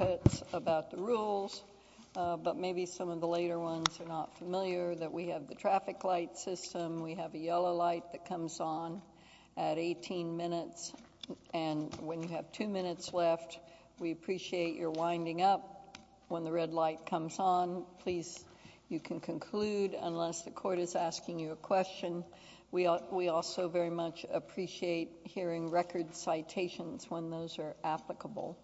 I'm going to ask you to make some comments about the rules, but maybe some of the later ones are not familiar, that we have the traffic light system, we have a yellow light that comes on at 18 minutes, and when you have two minutes left, we appreciate your winding up when the red light comes on. Please, you can conclude unless the court is asking you a question. We also very much appreciate hearing record citations when those are applicable.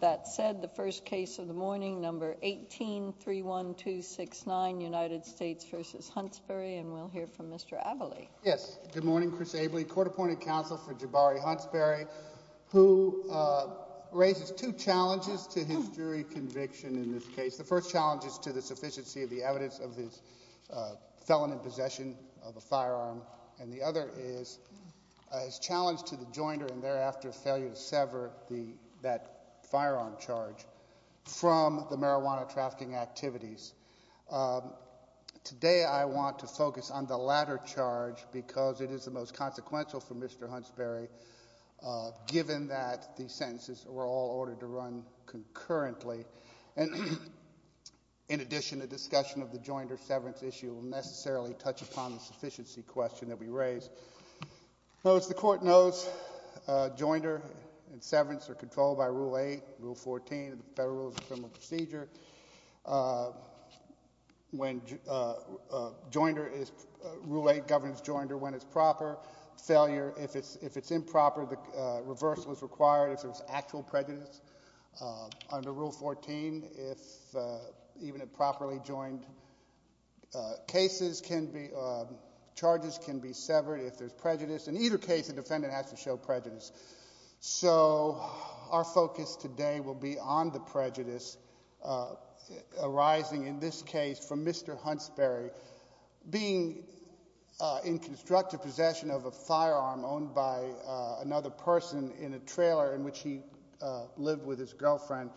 That said, the first case of the morning, number 18, 31269, United States v. Huntsberry, and we'll hear from Mr. Abelley. Yes. Good morning. Chris Abelley, court-appointed counsel for Jabori Huntsberry, who raises two challenges to his jury conviction in this case. The first challenge is to the sufficiency of the evidence of his felon in possession of a firearm, and the other is his challenge to the jointer and thereafter failure to sever that firearm charge from the marijuana trafficking activities. Today I want to focus on the latter charge because it is the most consequential for Mr. In addition, the discussion of the jointer severance issue will necessarily touch upon the sufficiency question that we raised. Notice the court knows jointer and severance are controlled by Rule 8, Rule 14 of the Federal Rules of Criminal Procedure. When jointer is, Rule 8 governs jointer when it's proper. Failure, if it's improper, the reversal is required if there's actual prejudice. Under Rule 14, if even a properly joined cases can be, charges can be severed if there's prejudice. In either case, the defendant has to show prejudice. So our focus today will be on the prejudice arising in this case from Mr. Huntsberry being in constructive possession of a firearm owned by another person in a trailer in which he lived with his girlfriend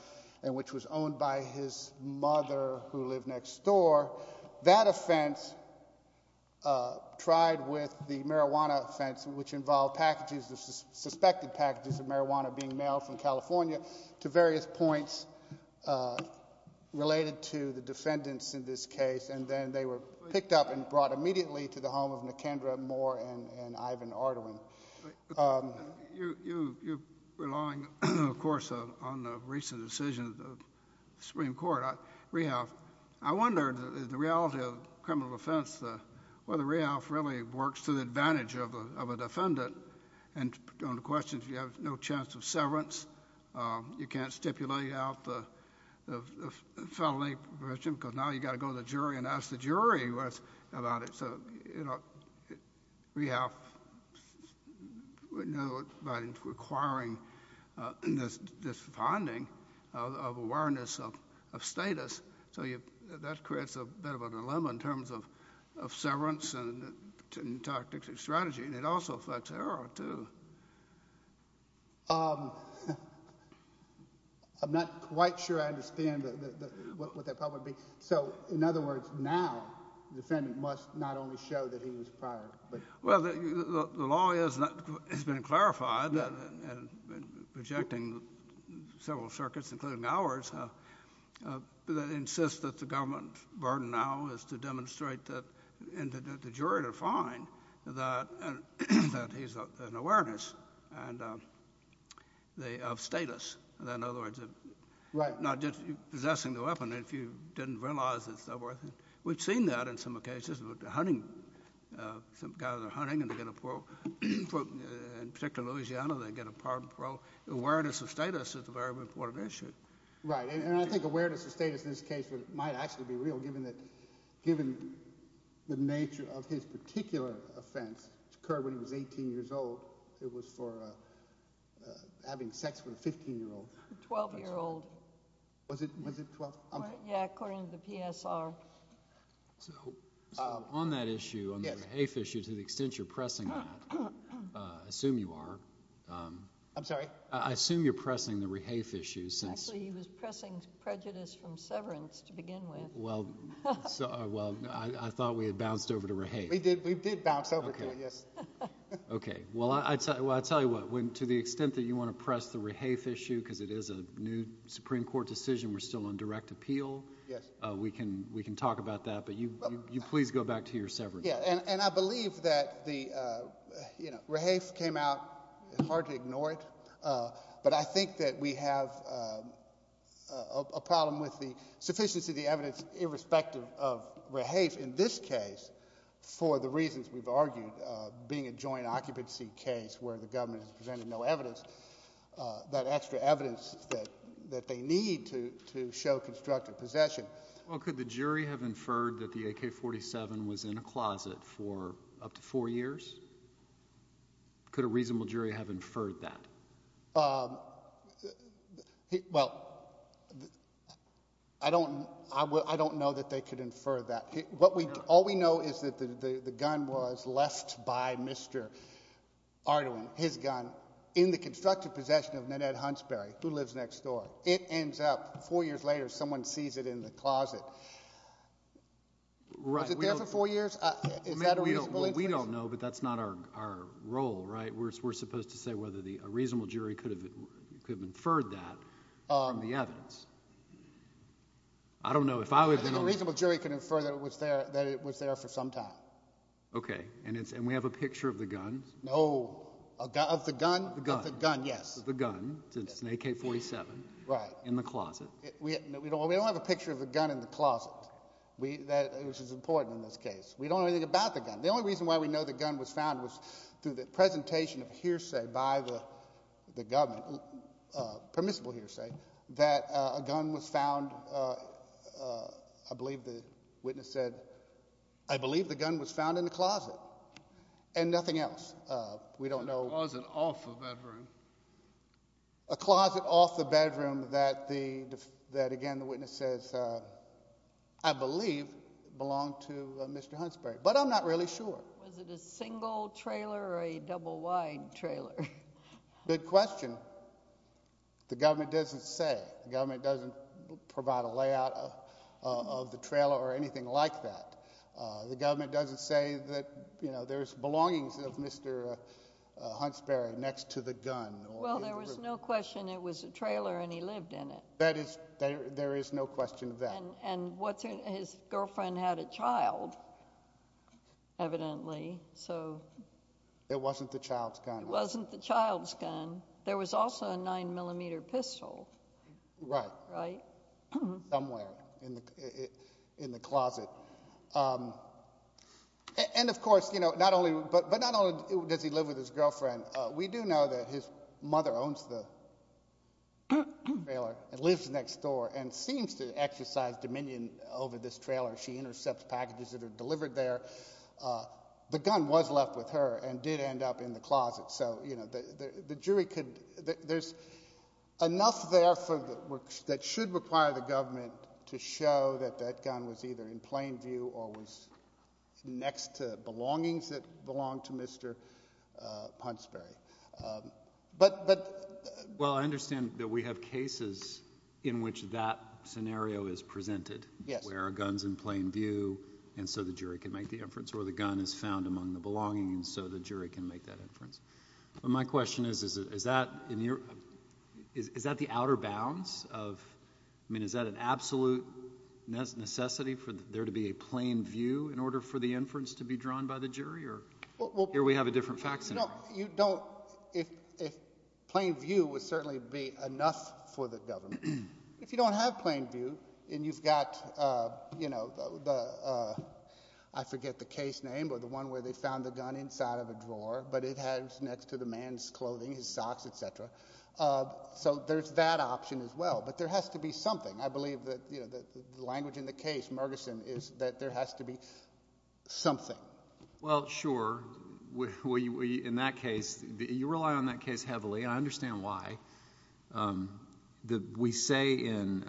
and which was owned by his mother who lived next door. That offense tried with the marijuana offense which involved packages, suspected packages of marijuana being mailed from California to various points related to the defendants in this case. And then they were picked up and brought immediately to the home of Nicandra Moore and Ivan Ardoin. You're relying, of course, on the recent decision of the Supreme Court, rehalf. I wonder, the reality of criminal defense, whether rehalf really works to the advantage of a defendant and on the question if you have no chance of severance, you can't stipulate out the felony provision because now you've got to go to the jury and ask the jury about it. So, you know, rehalf, you know, by requiring this finding of awareness of status, so that creates a bit of a dilemma in terms of severance and tactics and strategy. And it also affects error, too. I'm not quite sure I understand what that probably means. So, in other words, now the defendant must not only show that he was fired, but... Well, the law has been clarified in rejecting several circuits, including ours, that insist that the government burden now is to demonstrate that the jury to find that he's an awareness of status. In other words, not just possessing the weapon if you didn't realize it's not worth it. We've seen that in some cases with the hunting, some guys are hunting and they get a parole. In particular, in Louisiana, they get a parole. Awareness of status is a very important issue. Right. And I think awareness of status in this case might actually be real, given the nature of his particular offense, which occurred when he was 18 years old, it was for having sex with a 15-year-old. A 12-year-old. Was it 12? Yeah, according to the PSR. So, on that issue, on the rehafe issue, to the extent you're pressing that, I assume you are. I'm sorry? I assume you're pressing the rehafe issue since... Actually, he was pressing prejudice from severance to begin with. Well, I thought we had bounced over to rehafe. We did bounce over to it, yes. Okay. Well, I'll tell you what, to the extent that you want to press the rehafe issue because it is a new Supreme Court decision, we're still on direct appeal, we can talk about that, but you please go back to your severance. And I believe that the rehafe came out, it's hard to ignore it, but I think that we have a problem with the sufficiency of the evidence irrespective of rehafe in this case for the policy case where the government has presented no evidence, that extra evidence that they need to show constructive possession. Well, could the jury have inferred that the AK-47 was in a closet for up to four years? Could a reasonable jury have inferred that? Well, I don't know that they could infer that. All we know is that the gun was left by Mr. Ardoin, his gun, in the constructive possession of Nanette Hunsberry, who lives next door. It ends up, four years later, someone sees it in the closet. Right. Was it there for four years? Is that a reasonable inference? We don't know, but that's not our role, right? We're supposed to say whether a reasonable jury could have inferred that from the evidence. I don't know. A reasonable jury could infer that it was there for some time. Okay. And we have a picture of the gun? No. Of the gun? The gun. Of the gun, yes. The gun, since it's an AK-47. Right. In the closet. We don't have a picture of the gun in the closet, which is important in this case. We don't know anything about the gun. The only reason why we know the gun was found was through the presentation of hearsay by the government, permissible hearsay, that a gun was found, I believe the witness said, I believe the gun was found in the closet, and nothing else. We don't know. A closet off the bedroom. A closet off the bedroom that, again, the witness says, I believe belonged to Mr. Hunsberry, but I'm not really sure. Was it a single trailer or a double-wide trailer? Good question. The government doesn't say. The government doesn't provide a layout of the trailer or anything like that. The government doesn't say that, you know, there's belongings of Mr. Hunsberry next to the gun. Well, there was no question it was a trailer and he lived in it. There is no question of that. And his girlfriend had a child, evidently, so. It wasn't the child's gun. It wasn't the child's gun. There was also a 9mm pistol. Right. Right. Somewhere in the closet. And of course, you know, not only, but not only does he live with his girlfriend, we do know that his mother owns the trailer and lives next door and seems to exercise dominion over this trailer. She intercepts packages that are delivered there. The gun was left with her and did end up in the closet. So, you know, the jury could, there's enough there that should require the government to show that that gun was either in plain view or was next to belongings that belonged to Hunsberry. But. But. Well, I understand that we have cases in which that scenario is presented where a gun's in plain view and so the jury can make the inference or the gun is found among the belongings so the jury can make that inference. My question is, is that in your, is that the outer bounds of, I mean, is that an absolute necessity for there to be a plain view in order for the inference to be drawn by the jury? Or here we have a different fact scenario. You don't, if, if plain view would certainly be enough for the government. If you don't have plain view and you've got, you know, the, I forget the case name or the one where they found the gun inside of a drawer, but it has next to the man's clothing, his socks, et cetera. So there's that option as well, but there has to be something. I believe that, you know, the language in the case, Mergerson is that there has to be something. Well, sure. In that case, you rely on that case heavily and I understand why. We say in,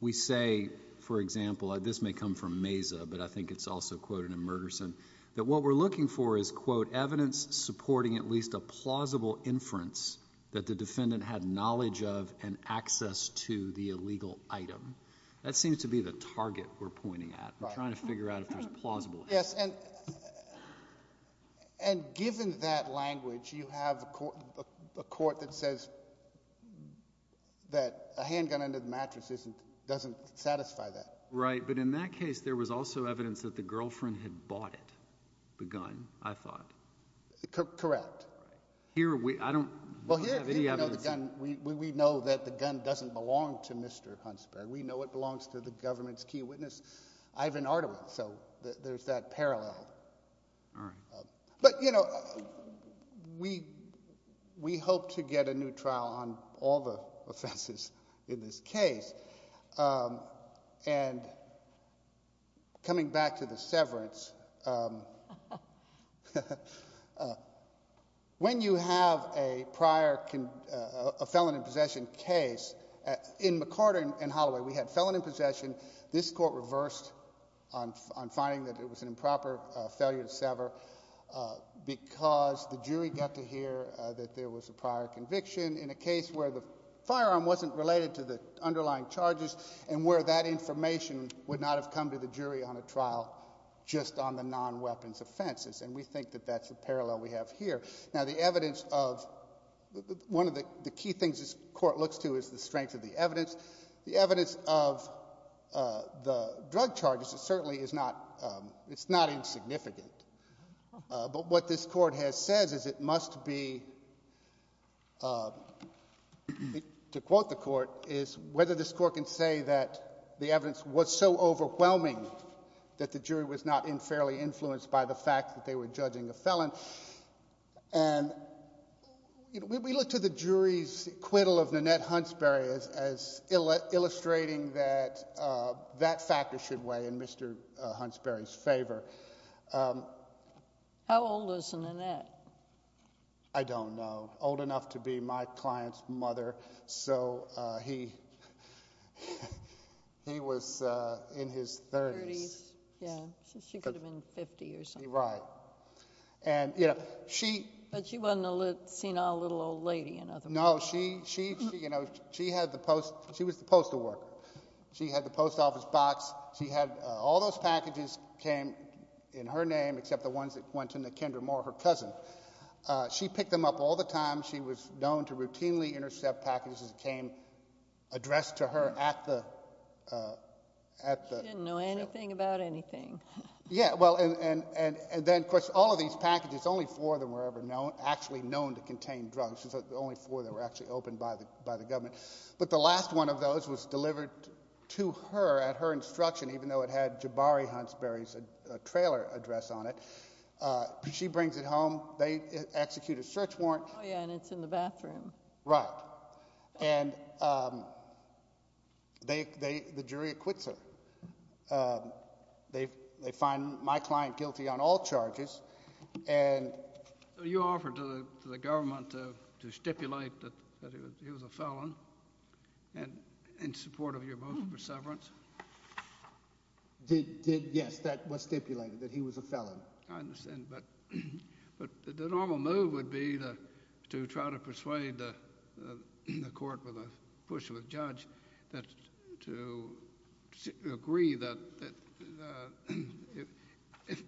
we say, for example, this may come from Mesa, but I think it's also quoted in Mergerson, that what we're looking for is, quote, evidence supporting at least a plausible inference that the defendant had knowledge of and access to the illegal item. That seems to be the target we're pointing at. I'm trying to figure out if there's a plausible. Yes. And, and given that language, you have a court, a court that says that a handgun under the mattress isn't, doesn't satisfy that. Right. But in that case, there was also evidence that the girlfriend had bought it, the gun, I thought. Correct. Here, we, I don't have any evidence. Well, here, here we know the gun, we, we know that the gun doesn't belong to Mr. Hunsberg. We know it belongs to the government's key witness. Ivan Ardiman. So there's that parallel. All right. But, you know, we, we hope to get a new trial on all the offenses in this case. And coming back to the severance, when you have a prior, a felon in possession case, in McCarter and Holloway, we had felon in possession. This court reversed on, on finding that it was an improper failure to sever because the jury got to hear that there was a prior conviction in a case where the firearm wasn't related to the underlying charges and where that information would not have come to the jury on a trial just on the non-weapons offenses. And we think that that's a parallel we have here. Now, the evidence of, one of the key things this court looks to is the strength of the evidence. The evidence of the drug charges, it certainly is not, it's not insignificant. But what this court has said is it must be, to quote the court, is whether this court can say that the evidence was so overwhelming that the jury was not in fairly influenced by the fact that they were judging a felon. And we look to the jury's acquittal of Nanette Hunsberry as illustrating that that factor should weigh in Mr. Hunsberry's favor. How old was Nanette? I don't know. Old enough to be my client's mother. So he, he was in his 30s. 30s. Yeah. She could have been 50 or something. Right. And, you know, she. But she wasn't a senile little old lady in other words. No. She, she, you know, she had the post, she was the postal worker. She had the post office box. She had all those packages came in her name except the ones that went to Nakendra Moore, her cousin. She picked them up all the time. She was known to routinely intercept packages that came addressed to her at the, at the trial. She didn't know anything about anything. Yeah. Well, and, and, and then of course all of these packages, only four of them were ever known, actually known to contain drugs. So the only four that were actually opened by the, by the government. But the last one of those was delivered to her at her instruction, even though it had Jabari Hunsberry's trailer address on it. She brings it home. They execute a search warrant. Oh yeah. And it's in the bathroom. Right. And they, they, the jury acquits her. They, they find my client guilty on all charges and... You offered to the, to the government to stipulate that, that he was, he was a felon and in support of your motion for severance? Did, did, yes, that was stipulated, that he was a felon. I understand. But, but the normal move would be to try to persuade the, the court with a push of a judge that to agree that, that if, if,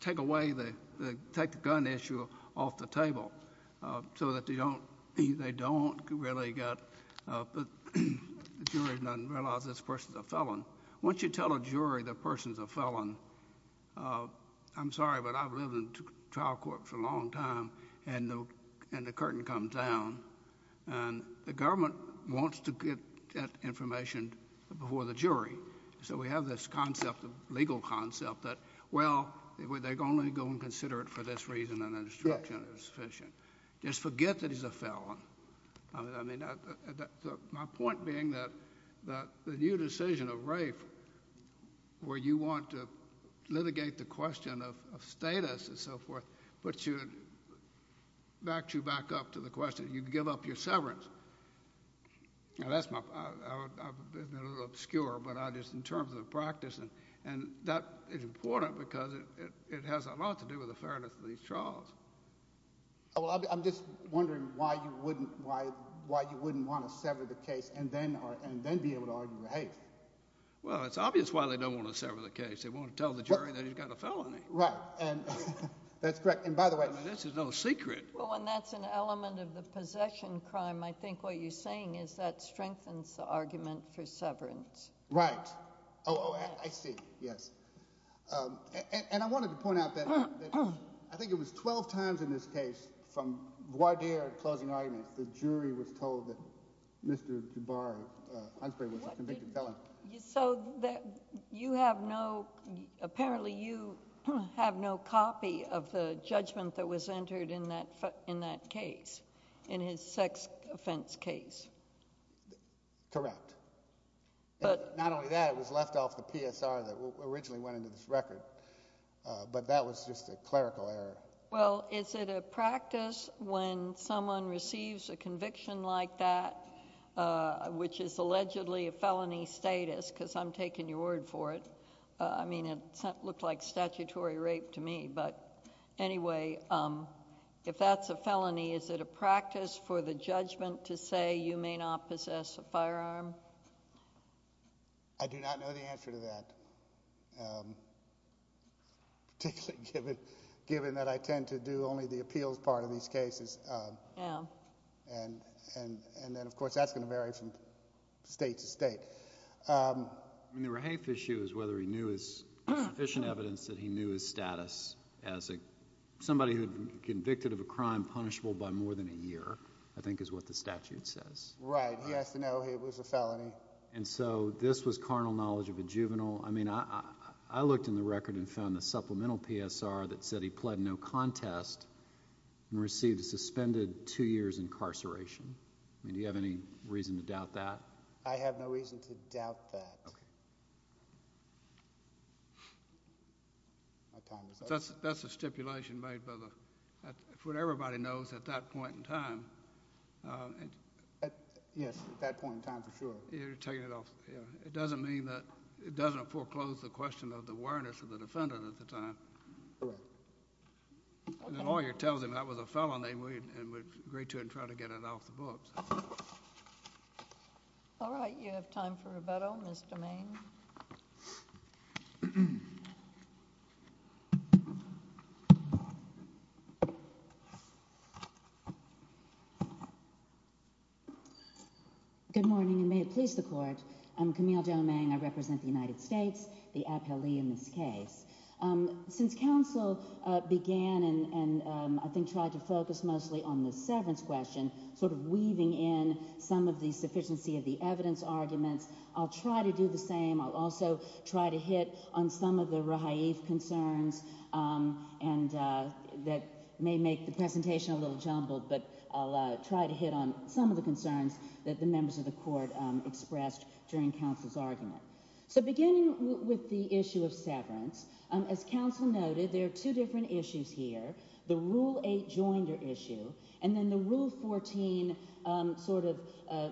take away the, the, take the gun issue off the table so that they don't, they don't really get, the jury doesn't realize this person's a felon. Once you tell a jury the person's a felon, I'm sorry, but I've lived in trial court for a long time and the, and the curtain comes down and the government wants to get that information before the jury. So we have this concept of legal concept that, well, they're going to go and consider it for this reason and that instruction is sufficient. Just forget that he's a felon. I mean, I, my point being that, that the new decision of Rafe where you want to litigate the question of, of status and so forth, but you, back to, back up to the question, you give up your severance. Now that's my, I, I, I've been a little obscure, but I just, in terms of the practice and, and that is important because it, it, it has a lot to do with the fairness of these trials. Oh, well, I'm just wondering why you wouldn't, why, why you wouldn't want to sever the case and then, or, and then be able to argue Rafe. Well it's obvious why they don't want to sever the case. They want to tell the jury that he's got a felony. Right. And that's correct. And by the way. I mean, this is no secret. Well, and that's an element of the possession crime. I think what you're saying is that strengthens the argument for severance. Right. Oh, I see. Yes. And, and I wanted to point out that I think it was 12 times in this case from voir dire closing arguments, the jury was told that Mr. Jabari, Hunsberry was a convicted felon. So that you have no, apparently you have no copy of the judgment that was entered in that, in that case, in his sex offense case. Correct. And not only that, it was left off the PSR that originally went into this record. But that was just a clerical error. Well, is it a practice when someone receives a conviction like that, which is allegedly a felony status, because I'm taking your word for it, I mean, it looked like statutory rape to me, but anyway, if that's a felony, is it a practice for the judgment to say you may not possess a firearm? I do not know the answer to that, particularly given, given that I tend to do only the appeals part of these cases. Yeah. And, and, and then of course, that's going to vary from state to state. I mean, the rehafe issue is whether he knew his sufficient evidence that he knew his status as a, somebody who had been convicted of a crime punishable by more than a year, I think is what the statute says. Right. He has to know it was a felony. And so, this was carnal knowledge of a juvenile, I mean, I, I, I looked in the record and found the supplemental PSR that said he pled no contest and received a suspended two years incarceration. I mean, do you have any reason to doubt that? I have no reason to doubt that. Okay. My time is up. That's, that's a stipulation made by the, what everybody knows at that point in time. Yes, at that point in time for sure. You're taking it off, yeah. It doesn't mean that, it doesn't foreclose the question of the awareness of the defendant at the time. Correct. And the lawyer tells him that was a felony and we, and we agree to it and try to get it off the books. All right. You have time for rebuttal. Ms. Domaine. Good morning and may it please the court, I'm Camille Domaine, I represent the United States, the appellee in this case. Since counsel began and, and I think tried to focus mostly on the severance question, sort of weaving in some of the sufficiency of the evidence arguments, I'll try to do the same. I'll also try to hit on some of the rehaif concerns and that may make the presentation a little jumbled, but I'll try to hit on some of the concerns that the members of the court expressed during counsel's argument. So beginning with the issue of severance, as counsel noted, there are two different issues here. The Rule 8 Joinder issue and then the Rule 14, sort of,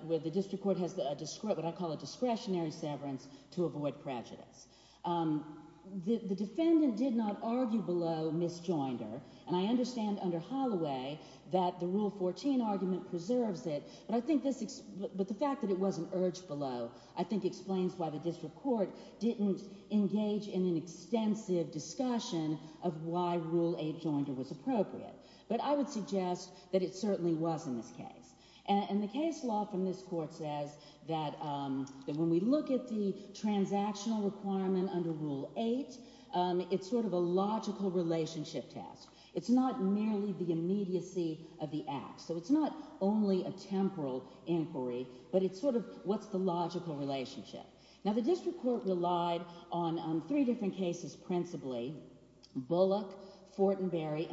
where the district court has a, what I call a discretionary severance to avoid prejudice. The defendant did not argue below Ms. Joinder and I understand under Holloway that the Rule 14 argument preserves it, but I think this, but the fact that it wasn't urged below, I think explains why the district court didn't engage in an extensive discussion of why Rule 8 Joinder was appropriate. But I would suggest that it certainly was in this case. And the case law from this court says that when we look at the transactional requirement under Rule 8, it's sort of a logical relationship test. It's not merely the immediacy of the act, so it's not only a temporal inquiry, but it's sort of what's the logical relationship. Now the district court relied on three different cases principally, Bullock, Fortenberry,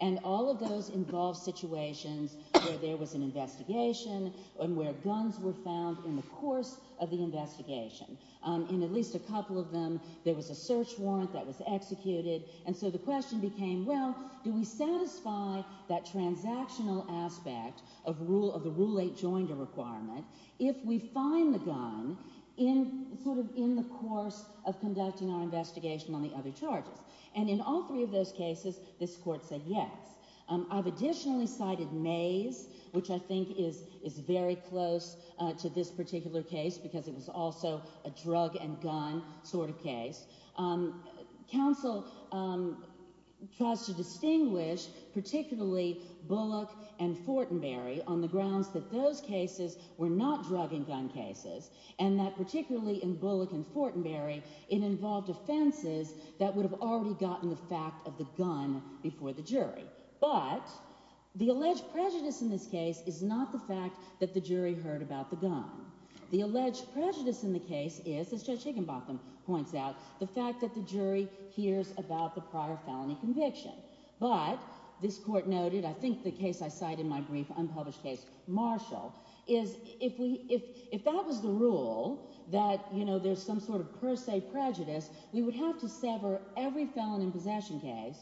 and all of those involved situations where there was an investigation and where guns were found in the course of the investigation. In at least a couple of them, there was a search warrant that was executed and so the question became, well, do we satisfy that transactional aspect of the Rule 8 Joinder requirement if we find the gun in, sort of, in the course of conducting our investigation on the other charges? And in all three of those cases, this court said yes. I've additionally cited Mays, which I think is very close to this particular case because it was also a drug and gun sort of case. Counsel tries to distinguish particularly Bullock and Fortenberry on the grounds that those cases were not drug and gun cases and that particularly in Bullock and Fortenberry, it involved offenses that would have already gotten the fact of the gun before the jury. But the alleged prejudice in this case is not the fact that the jury heard about the gun. The alleged prejudice in the case is, as Judge Higginbotham points out, the fact that the jury hears about the prior felony conviction. But this court noted, I think the case I cite in my brief unpublished case, Marshall, is that if that was the rule, that, you know, there's some sort of per se prejudice, we would have to sever every felony possession case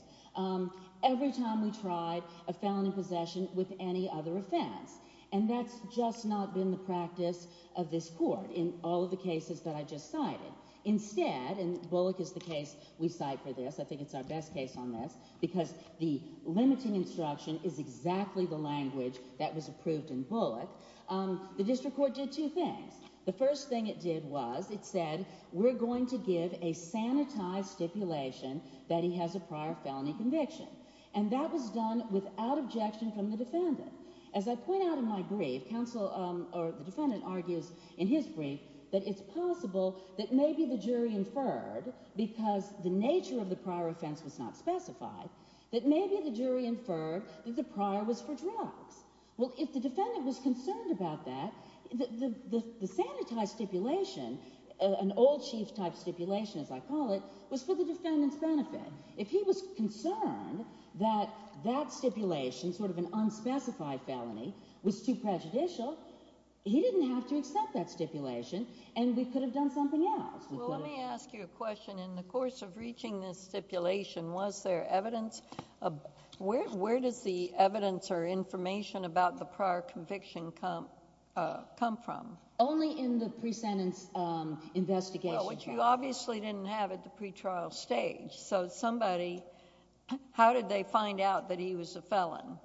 every time we tried a felony possession with any other offense. And that's just not been the practice of this court in all of the cases that I just cited. Instead, and Bullock is the case we cite for this, I think it's our best case on this, because the limiting instruction is exactly the language that was approved in Bullock. The district court did two things. The first thing it did was it said, we're going to give a sanitized stipulation that he has a prior felony conviction. And that was done without objection from the defendant. As I point out in my brief, counsel, or the defendant argues in his brief, that it's possible that maybe the jury inferred, because the nature of the prior offense was not specified, that maybe the jury inferred that the prior was for drugs. Well, if the defendant was concerned about that, the sanitized stipulation, an old chief type stipulation as I call it, was for the defendant's benefit. If he was concerned that that stipulation, sort of an unspecified felony, was too prejudicial, he didn't have to accept that stipulation, and we could have done something else. Well, let me ask you a question. In the course of reaching this stipulation, was there evidence? Where does the evidence or information about the prior conviction come from? Only in the pre-sentence investigation. Well, which you obviously didn't have at the pretrial stage. So somebody, how did they find out that he was a felon?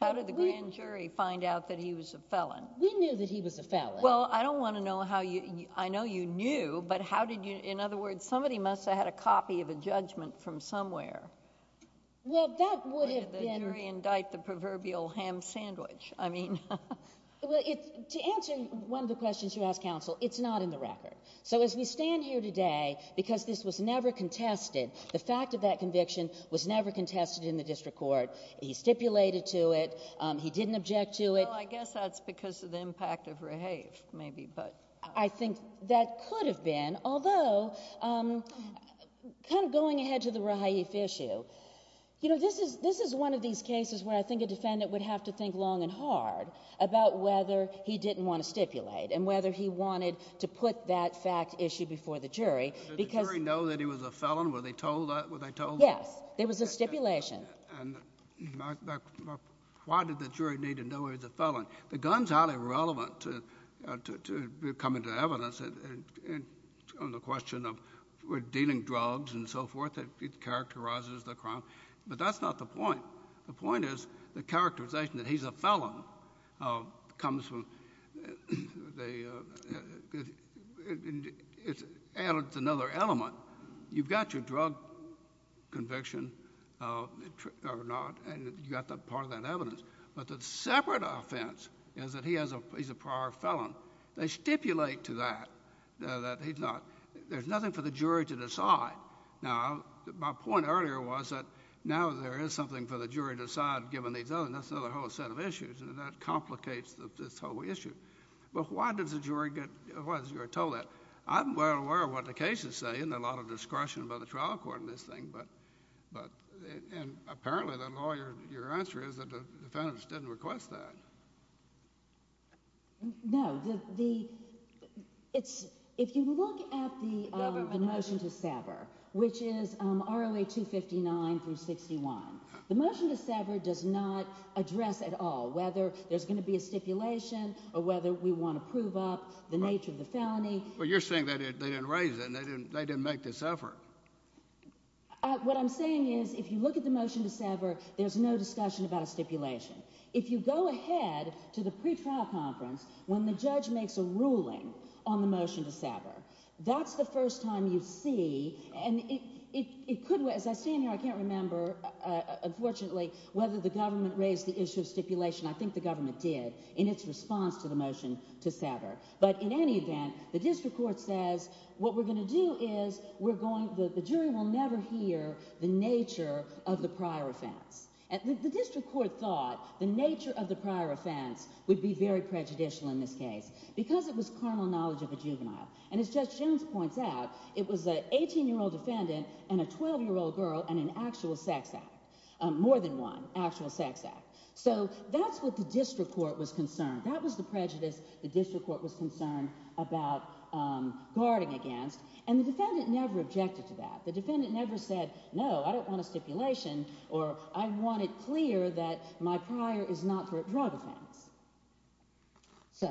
How did the grand jury find out that he was a felon? We knew that he was a felon. Well, I don't want to know how you, I know you knew, but how did you, in other words, somebody must have had a copy of a judgment from somewhere. Well, that would have been... Or did the jury indict the proverbial ham sandwich? I mean... Well, to answer one of the questions you asked, counsel, it's not in the record. So as we stand here today, because this was never contested, the fact of that conviction was never contested in the district court. He stipulated to it. He didn't object to it. Well, I guess that's because of the impact of Raheif, maybe, but... I think that could have been, although, kind of going ahead to the Raheif issue, you know, this is one of these cases where I think a defendant would have to think long and hard about whether he didn't want to stipulate and whether he wanted to put that fact issue before the jury because... Did the jury know that he was a felon? Were they told that? Yes. There was a stipulation. And why did the jury need to know he was a felon? The gun's highly relevant to coming to evidence on the question of dealing drugs and so forth that characterizes the crime, but that's not the point. The point is the characterization that he's a felon comes from... it's another element. You've got your drug conviction or not, and you've got part of that evidence, but the separate offense is that he's a prior felon. They stipulate to that that he's not... there's nothing for the jury to decide. Now, my point earlier was that now there is something for the jury to decide given these other... that's another whole set of issues, and that complicates this whole issue. But why does the jury get... why is the jury told that? I'm well aware of what the cases say, and there's a lot of discretion by the trial court in this thing, but... and apparently the lawyer... your answer is that the defendants didn't request that. No. The... it's... if you look at the motion to sever, which is RLA 259 through 61, the motion to sever does not address at all whether there's going to be a stipulation or whether we want to prove up the nature of the felony. Well, you're saying that they didn't raise it and they didn't make this effort. What I'm saying is if you look at the motion to sever, there's no discussion about a stipulation. If you go ahead to the pretrial conference when the judge makes a ruling on the motion to sever, that's the first time you see... and it could... as I stand here, I can't remember, unfortunately, whether the government raised the issue of stipulation. I think the government did in its response to the motion to sever. But in any event, the district court says what we're going to do is we're going... the jury will never hear the nature of the prior offense. The district court thought the nature of the prior offense would be very prejudicial in this case because it was carnal knowledge of a juvenile. And as Judge Jones points out, it was an 18-year-old defendant and a 12-year-old girl and an actual sex act, more than one actual sex act. So that's what the district court was concerned. That was the prejudice the district court was concerned about guarding against. And the defendant never objected to that. The defendant never said, no, I don't want a stipulation or I want it clear that my prior is not for a drug offense. So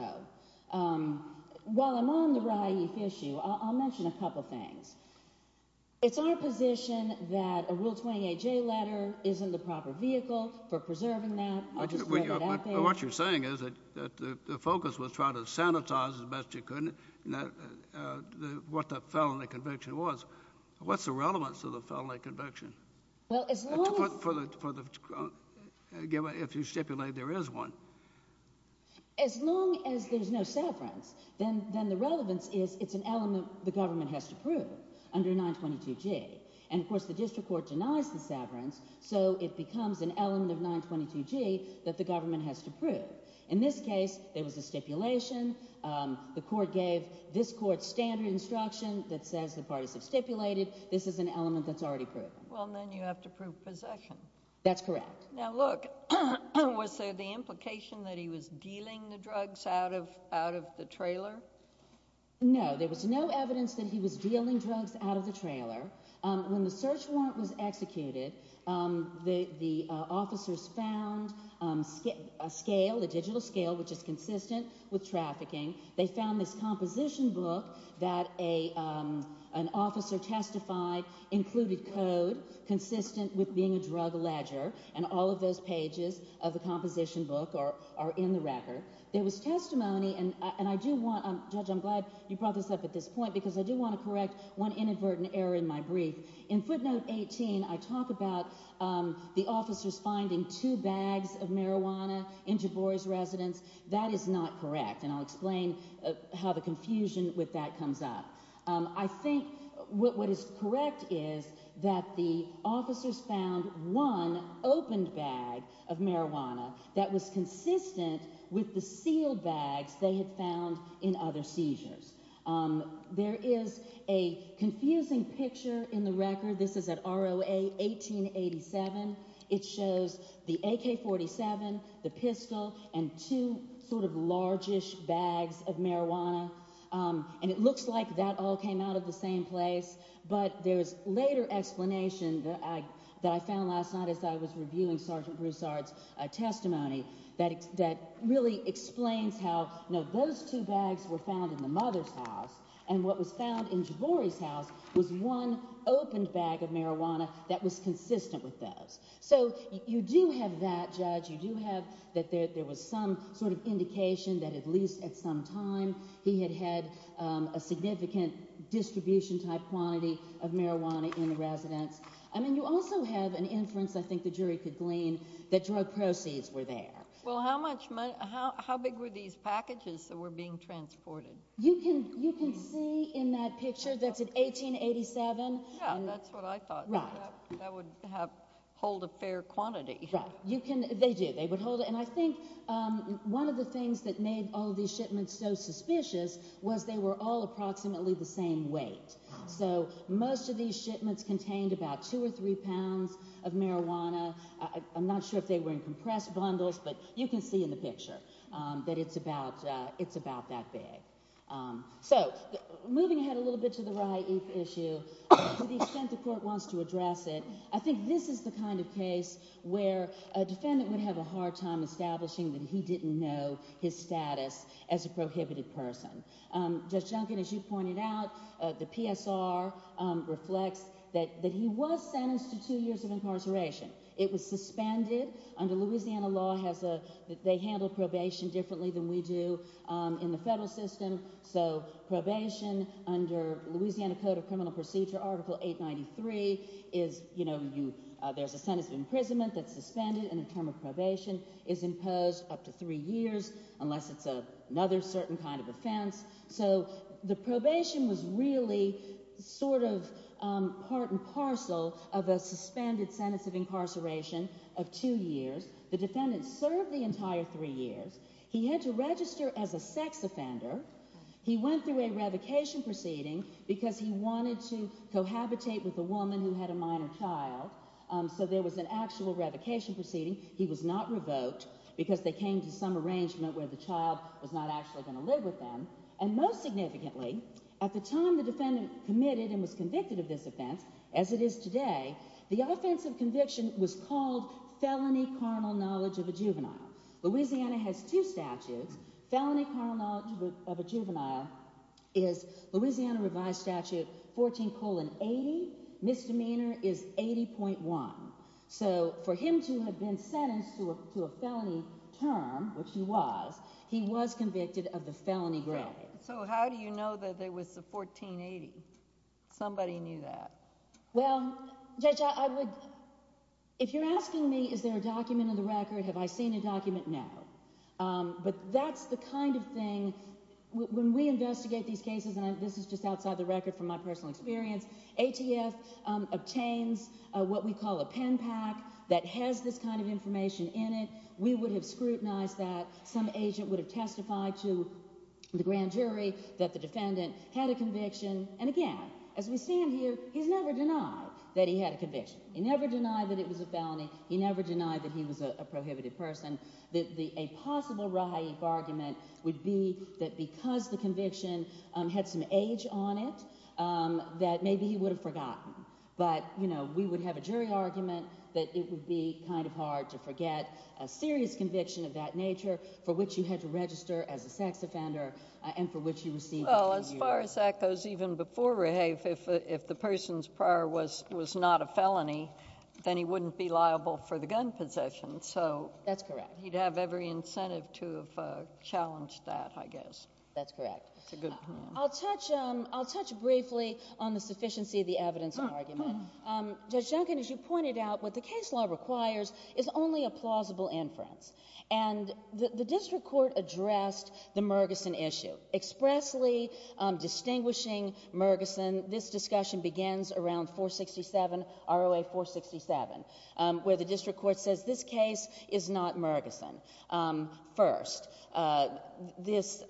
while I'm on the rai if issue, I'll mention a couple things. It's our position that a Rule 28J letter isn't the proper vehicle for preserving that. But what you're saying is that the focus was trying to sanitize as best as you could what the felony conviction was. What's the relevance of the felony conviction if you stipulate there is one? As long as there's no severance, then the relevance is it's an element the government has to prove under 922G. And of course, the district court denies the severance, so it becomes an element of 922G that the government has to prove. In this case, there was a stipulation. The court gave this court standard instruction that says the parties have stipulated. This is an element that's already proven. Well, then you have to prove possession. That's correct. Now look, was there the implication that he was dealing the drugs out of the trailer? No. There was no evidence that he was dealing drugs out of the trailer. When the search warrant was executed, the officers found a scale, a digital scale, which is consistent with trafficking. They found this composition book that an officer testified included code consistent with being a drug ledger. And all of those pages of the composition book are in the record. There was testimony, and I do want, Judge, I'm glad you brought this up at this point because I do want to correct one inadvertent error in my brief. In footnote 18, I talk about the officers finding two bags of marijuana in Jabor's residence. That is not correct, and I'll explain how the confusion with that comes up. I think what is correct is that the officers found one opened bag of marijuana that was the sealed bags they had found in other seizures. There is a confusing picture in the record. This is at ROA 1887. It shows the AK-47, the pistol, and two sort of large-ish bags of marijuana, and it looks like that all came out of the same place. But there's later explanation that I found last night as I was reviewing Sergeant Broussard's testimony that really explains how those two bags were found in the mother's house, and what was found in Jabor's house was one opened bag of marijuana that was consistent with those. So you do have that, Judge, you do have that there was some sort of indication that at least at some time he had had a significant distribution type quantity of marijuana in the residence. I mean, you also have an inference, I think the jury could glean, that drug proceeds were there. Well, how big were these packages that were being transported? You can see in that picture, that's at 1887. Yeah, that's what I thought. Right. That would hold a fair quantity. Right. They do. They would hold it. And I think one of the things that made all these shipments so suspicious was they were all approximately the same weight. So most of these shipments contained about two or three pounds of marijuana. I'm not sure if they were in compressed bundles, but you can see in the picture that it's about that big. So, moving ahead a little bit to the Rye Eve issue, to the extent the court wants to address it, I think this is the kind of case where a defendant would have a hard time establishing that he didn't know his status as a prohibited person. Judge Junkin, as you pointed out, the PSR reflects that he was sentenced to two years of incarceration. It was suspended. Under Louisiana law, they handle probation differently than we do in the federal system. So probation under Louisiana Code of Criminal Procedure, Article 893, there's a sentence of imprisonment that's suspended and a term of probation is imposed up to three years unless it's another certain kind of offense. So the probation was really sort of part and parcel of a suspended sentence of incarceration of two years. The defendant served the entire three years. He had to register as a sex offender. He went through a revocation proceeding because he wanted to cohabitate with a woman who had a minor child. So there was an actual revocation proceeding. He was not revoked because they came to some arrangement where the child was not actually going to live with them. And most significantly, at the time the defendant committed and was convicted of this offense, as it is today, the offense of conviction was called felony carnal knowledge of a juvenile. Louisiana has two statutes. Felony carnal knowledge of a juvenile is Louisiana revised statute 14 colon 80. Misdemeanor is 80.1. So for him to have been sentenced to a felony term, which he was, he was convicted of the felony gravity. So how do you know that there was a 1480? Somebody knew that. Well, Judge, I would, if you're asking me, is there a document in the record? Have I seen a document now? But that's the kind of thing when we investigate these cases, and this is just outside the pen pack that has this kind of information in it. We would have scrutinized that. Some agent would have testified to the grand jury that the defendant had a conviction. And again, as we stand here, he's never denied that he had a conviction. He never denied that it was a felony. He never denied that he was a prohibited person. A possible Rahaib argument would be that because the conviction had some age on it, that maybe he would have forgotten. But, you know, we would have a jury argument that it would be kind of hard to forget a serious conviction of that nature for which you had to register as a sex offender and for which you received. Well, as far as that goes, even before Rahaib, if if the person's prior was was not a felony, then he wouldn't be liable for the gun possession. So that's correct. He'd have every incentive to have challenged that, I guess. That's correct. I'll touch I'll touch briefly on the sufficiency of the evidence argument. Judge Duncan, as you pointed out, what the case law requires is only a plausible inference. And the district court addressed the Murgison issue expressly distinguishing Murgison. This discussion begins around 467, ROA 467, where the district court says this case is not Murgison. First, this, you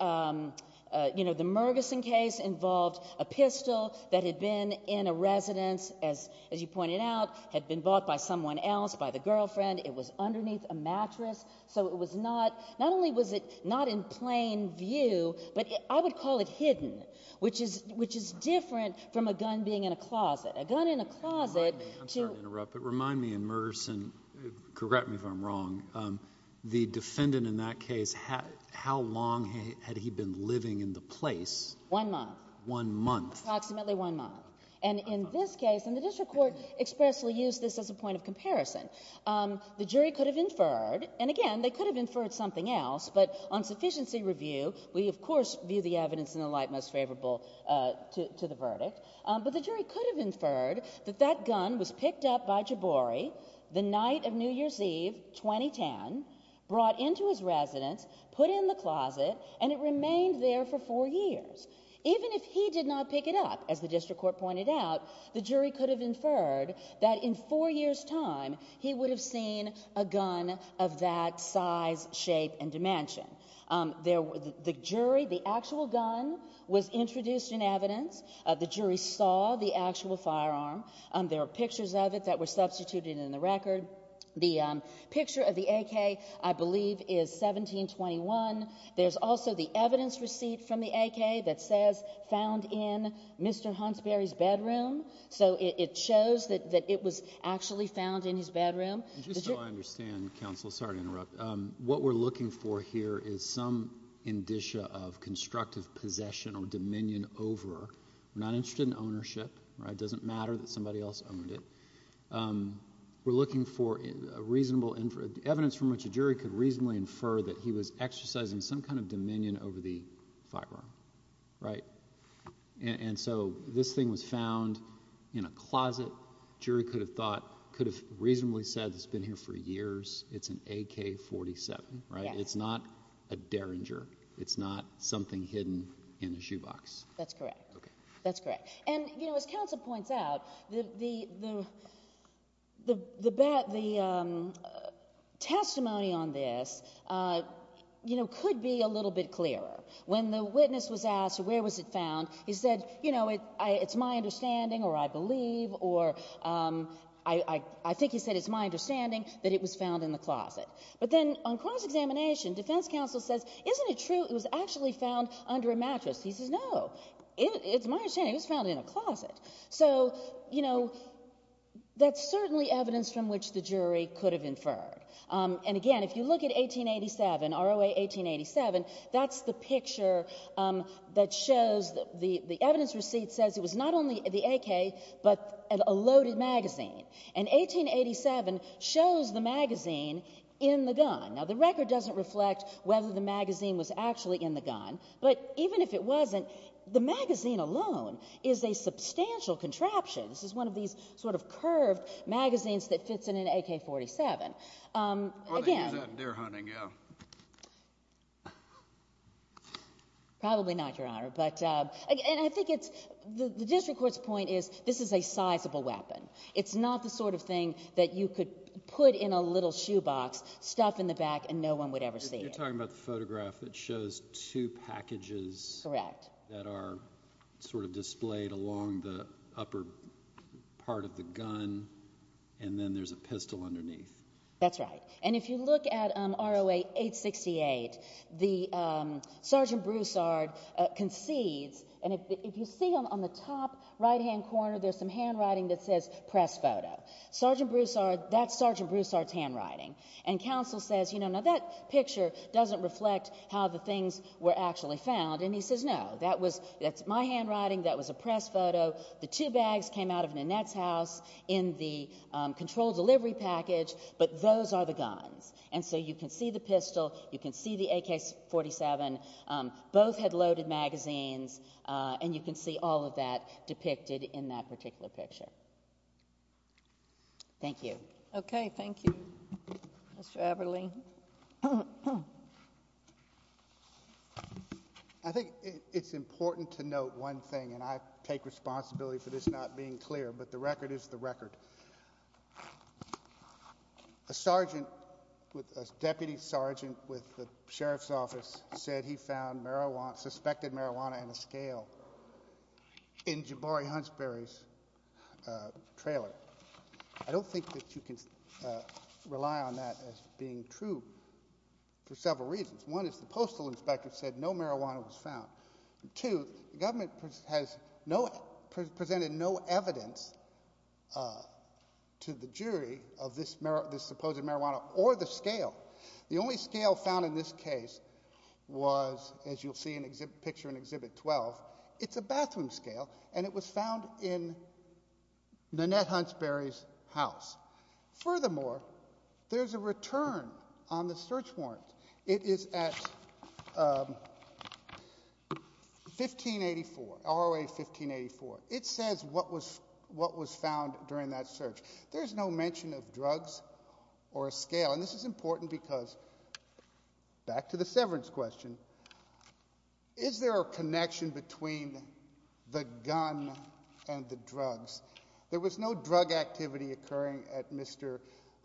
know, the Murgison case involved a pistol that had been in a residence, as as you pointed out, had been bought by someone else by the girlfriend. It was underneath a mattress. So it was not not only was it not in plain view, but I would call it hidden, which is which is different from a gun being in a closet, a gun in a closet to interrupt, but remind me in Murgison, correct me if I'm wrong, the defendant in that case, how long had he been living in the place? One month. One month. Approximately one month. And in this case, and the district court expressly used this as a point of comparison, the jury could have inferred, and again, they could have inferred something else, but on sufficiency review, we of course view the evidence in the light most favorable to the verdict, but the jury could have inferred that that gun was picked up by Jabouri the night of New Year's Eve, 2010, brought into his residence, put in the closet, and it remained there for four years. Even if he did not pick it up, as the district court pointed out, the jury could have inferred that in four years' time, he would have seen a gun of that size, shape, and dimension. The jury, the actual gun was introduced in evidence. The jury saw the actual firearm. There are pictures of it that were substituted in the record. The picture of the AK, I believe, is 1721. There's also the evidence receipt from the AK that says found in Mr. Hansberry's bedroom, so it shows that it was actually found in his bedroom. Just so I understand, counsel, sorry to interrupt, what we're looking for here is some indicia of constructive possession or dominion over. We're not interested in ownership. It doesn't matter that somebody else owned it. We're looking for a reasonable, evidence from which a jury could reasonably infer that he was exercising some kind of dominion over the firearm, right? And so this thing was found in a closet. Jury could have thought, could have reasonably said it's been here for years. It's an AK-47, right? It's not a Derringer. It's not something hidden in a shoebox. That's correct. Okay. That's correct. And, you know, as counsel points out, the testimony on this, you know, could be a little bit clearer. When the witness was asked where was it found, he said, you know, it's my understanding or I believe or I think he said it's my understanding that it was found in the closet. But then on cross-examination, defense counsel says, isn't it true it was actually found under a mattress? He says, no, it's my understanding it was found in a closet. So, you know, that's certainly evidence from which the jury could have inferred. And again, if you look at 1887, ROA 1887, that's the picture that shows the evidence receipt says it was not only the AK, but a loaded magazine. And 1887 shows the magazine in the gun. Now, the record doesn't reflect whether the magazine was actually in the gun, but even if it wasn't, the magazine alone is a substantial contraption. This is one of these sort of curved magazines that fits in an AK-47. Again. Or they use that in deer hunting, yeah. Probably not, Your Honor. But again, I think it's the district court's point is this is a sizable weapon. It's not the sort of thing that you could put in a little shoebox, stuff in the back, and no one would ever see it. If you're talking about the photograph that shows two packages that are sort of displayed along the upper part of the gun, and then there's a pistol underneath. That's right. And if you look at ROA 868, the Sergeant Broussard concedes, and if you see on the top right hand corner, there's some handwriting that says press photo. Sergeant Broussard, that's Sergeant Broussard's handwriting. And counsel says, you know, now that picture doesn't reflect how the things were actually found. And he says, no. That's my handwriting. That was a press photo. The two bags came out of Nanette's house in the control delivery package, but those are the guns. And so you can see the pistol. You can see the AK-47. Both had loaded magazines, and you can see all of that depicted in that particular picture. Thank you. Okay. Thank you. Mr. Aberle. I think it's important to note one thing, and I take responsibility for this not being clear, but the record is the record. A deputy sergeant with the sheriff's office said he found marijuana, suspected marijuana and a scale in Jabari Hunsberry's trailer. I don't think that you can rely on that as being true for several reasons. One is the postal inspector said no marijuana was found. Two, the government has presented no evidence to the jury of this supposed marijuana or the scale. The only scale found in this case was, as you'll see in the picture in Exhibit 12, it's a bathroom scale, and it was found in Nanette Hunsberry's house. Furthermore, there's a return on the search warrant. It is at 1584, ROA 1584. It says what was found during that search. There's no mention of drugs or a scale, and this is important because, back to the severance question, is there a connection between the gun and the drugs? There was no drug activity occurring at Mr.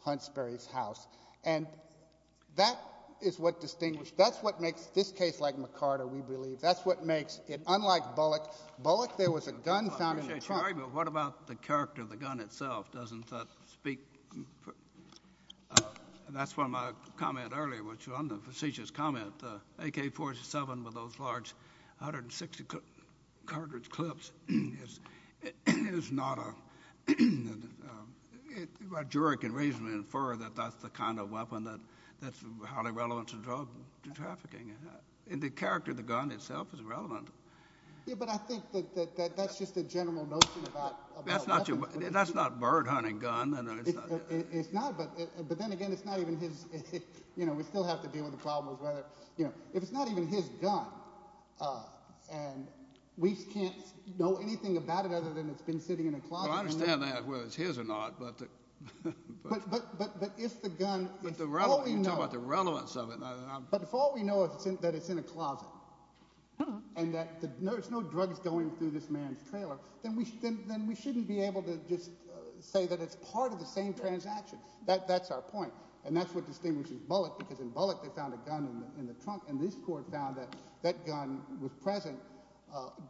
Hunsberry's house, and that is what distinguished — that's what makes this case, like McCarter, we believe, that's what makes it — unlike Bullock. Bullock, there was a gun found in the trunk. I appreciate your argument, but what about the character of the gun itself? Doesn't that speak — that's one of my comments earlier, which was on the facetious comment, the AK-47 with those large 160-cartridge clips is not a — a juror can reasonably infer that that's the kind of weapon that's highly relevant to drug trafficking. The character of the gun itself is relevant. Yeah, but I think that that's just a general notion about weapons. That's not a bird-hunting gun. It's not, but then again, it's not even his — you know, we still have to deal with the — you know, if it's not even his gun, and we can't know anything about it other than it's been sitting in a closet — Well, I understand that, whether it's his or not, but — But if the gun — You're talking about the relevance of it. But if all we know is that it's in a closet, and that there's no drugs going through this man's trailer, then we shouldn't be able to just say that it's part of the same transaction. That's our point, and that's what distinguishes Bullock, because in Bullock they found a gun in the trunk, and this court found that that gun was present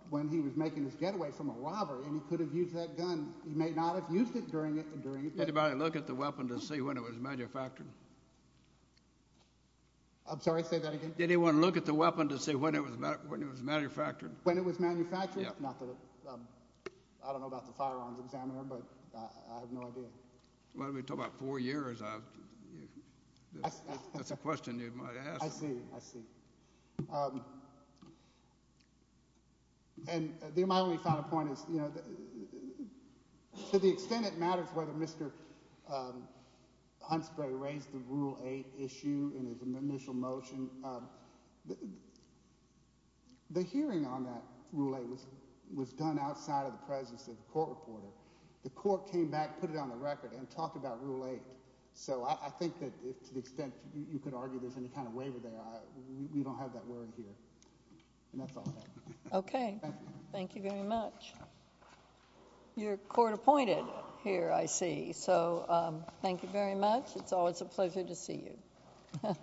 when he was making his getaway from a robbery, and he could have used that gun. He may not have used it during the — Did anybody look at the weapon to see when it was manufactured? I'm sorry, say that again? Did anyone look at the weapon to see when it was manufactured? When it was manufactured? Yeah. Not that I — I don't know about the firearms examiner, but I have no idea. Well, we're talking about four years. That's a question you might ask. I see. I see. And my only final point is, you know, to the extent it matters whether Mr. Huntsbury raised the Rule 8 issue in his initial motion, the hearing on that Rule 8 was done outside of the presence of a court reporter. The court came back, put it on the record, and talked about Rule 8. So I think that to the extent you could argue there's any kind of waiver there, we don't have that word here, and that's all I have. Okay. Thank you very much. You're court-appointed here, I see, so thank you very much. It's always a pleasure to see you.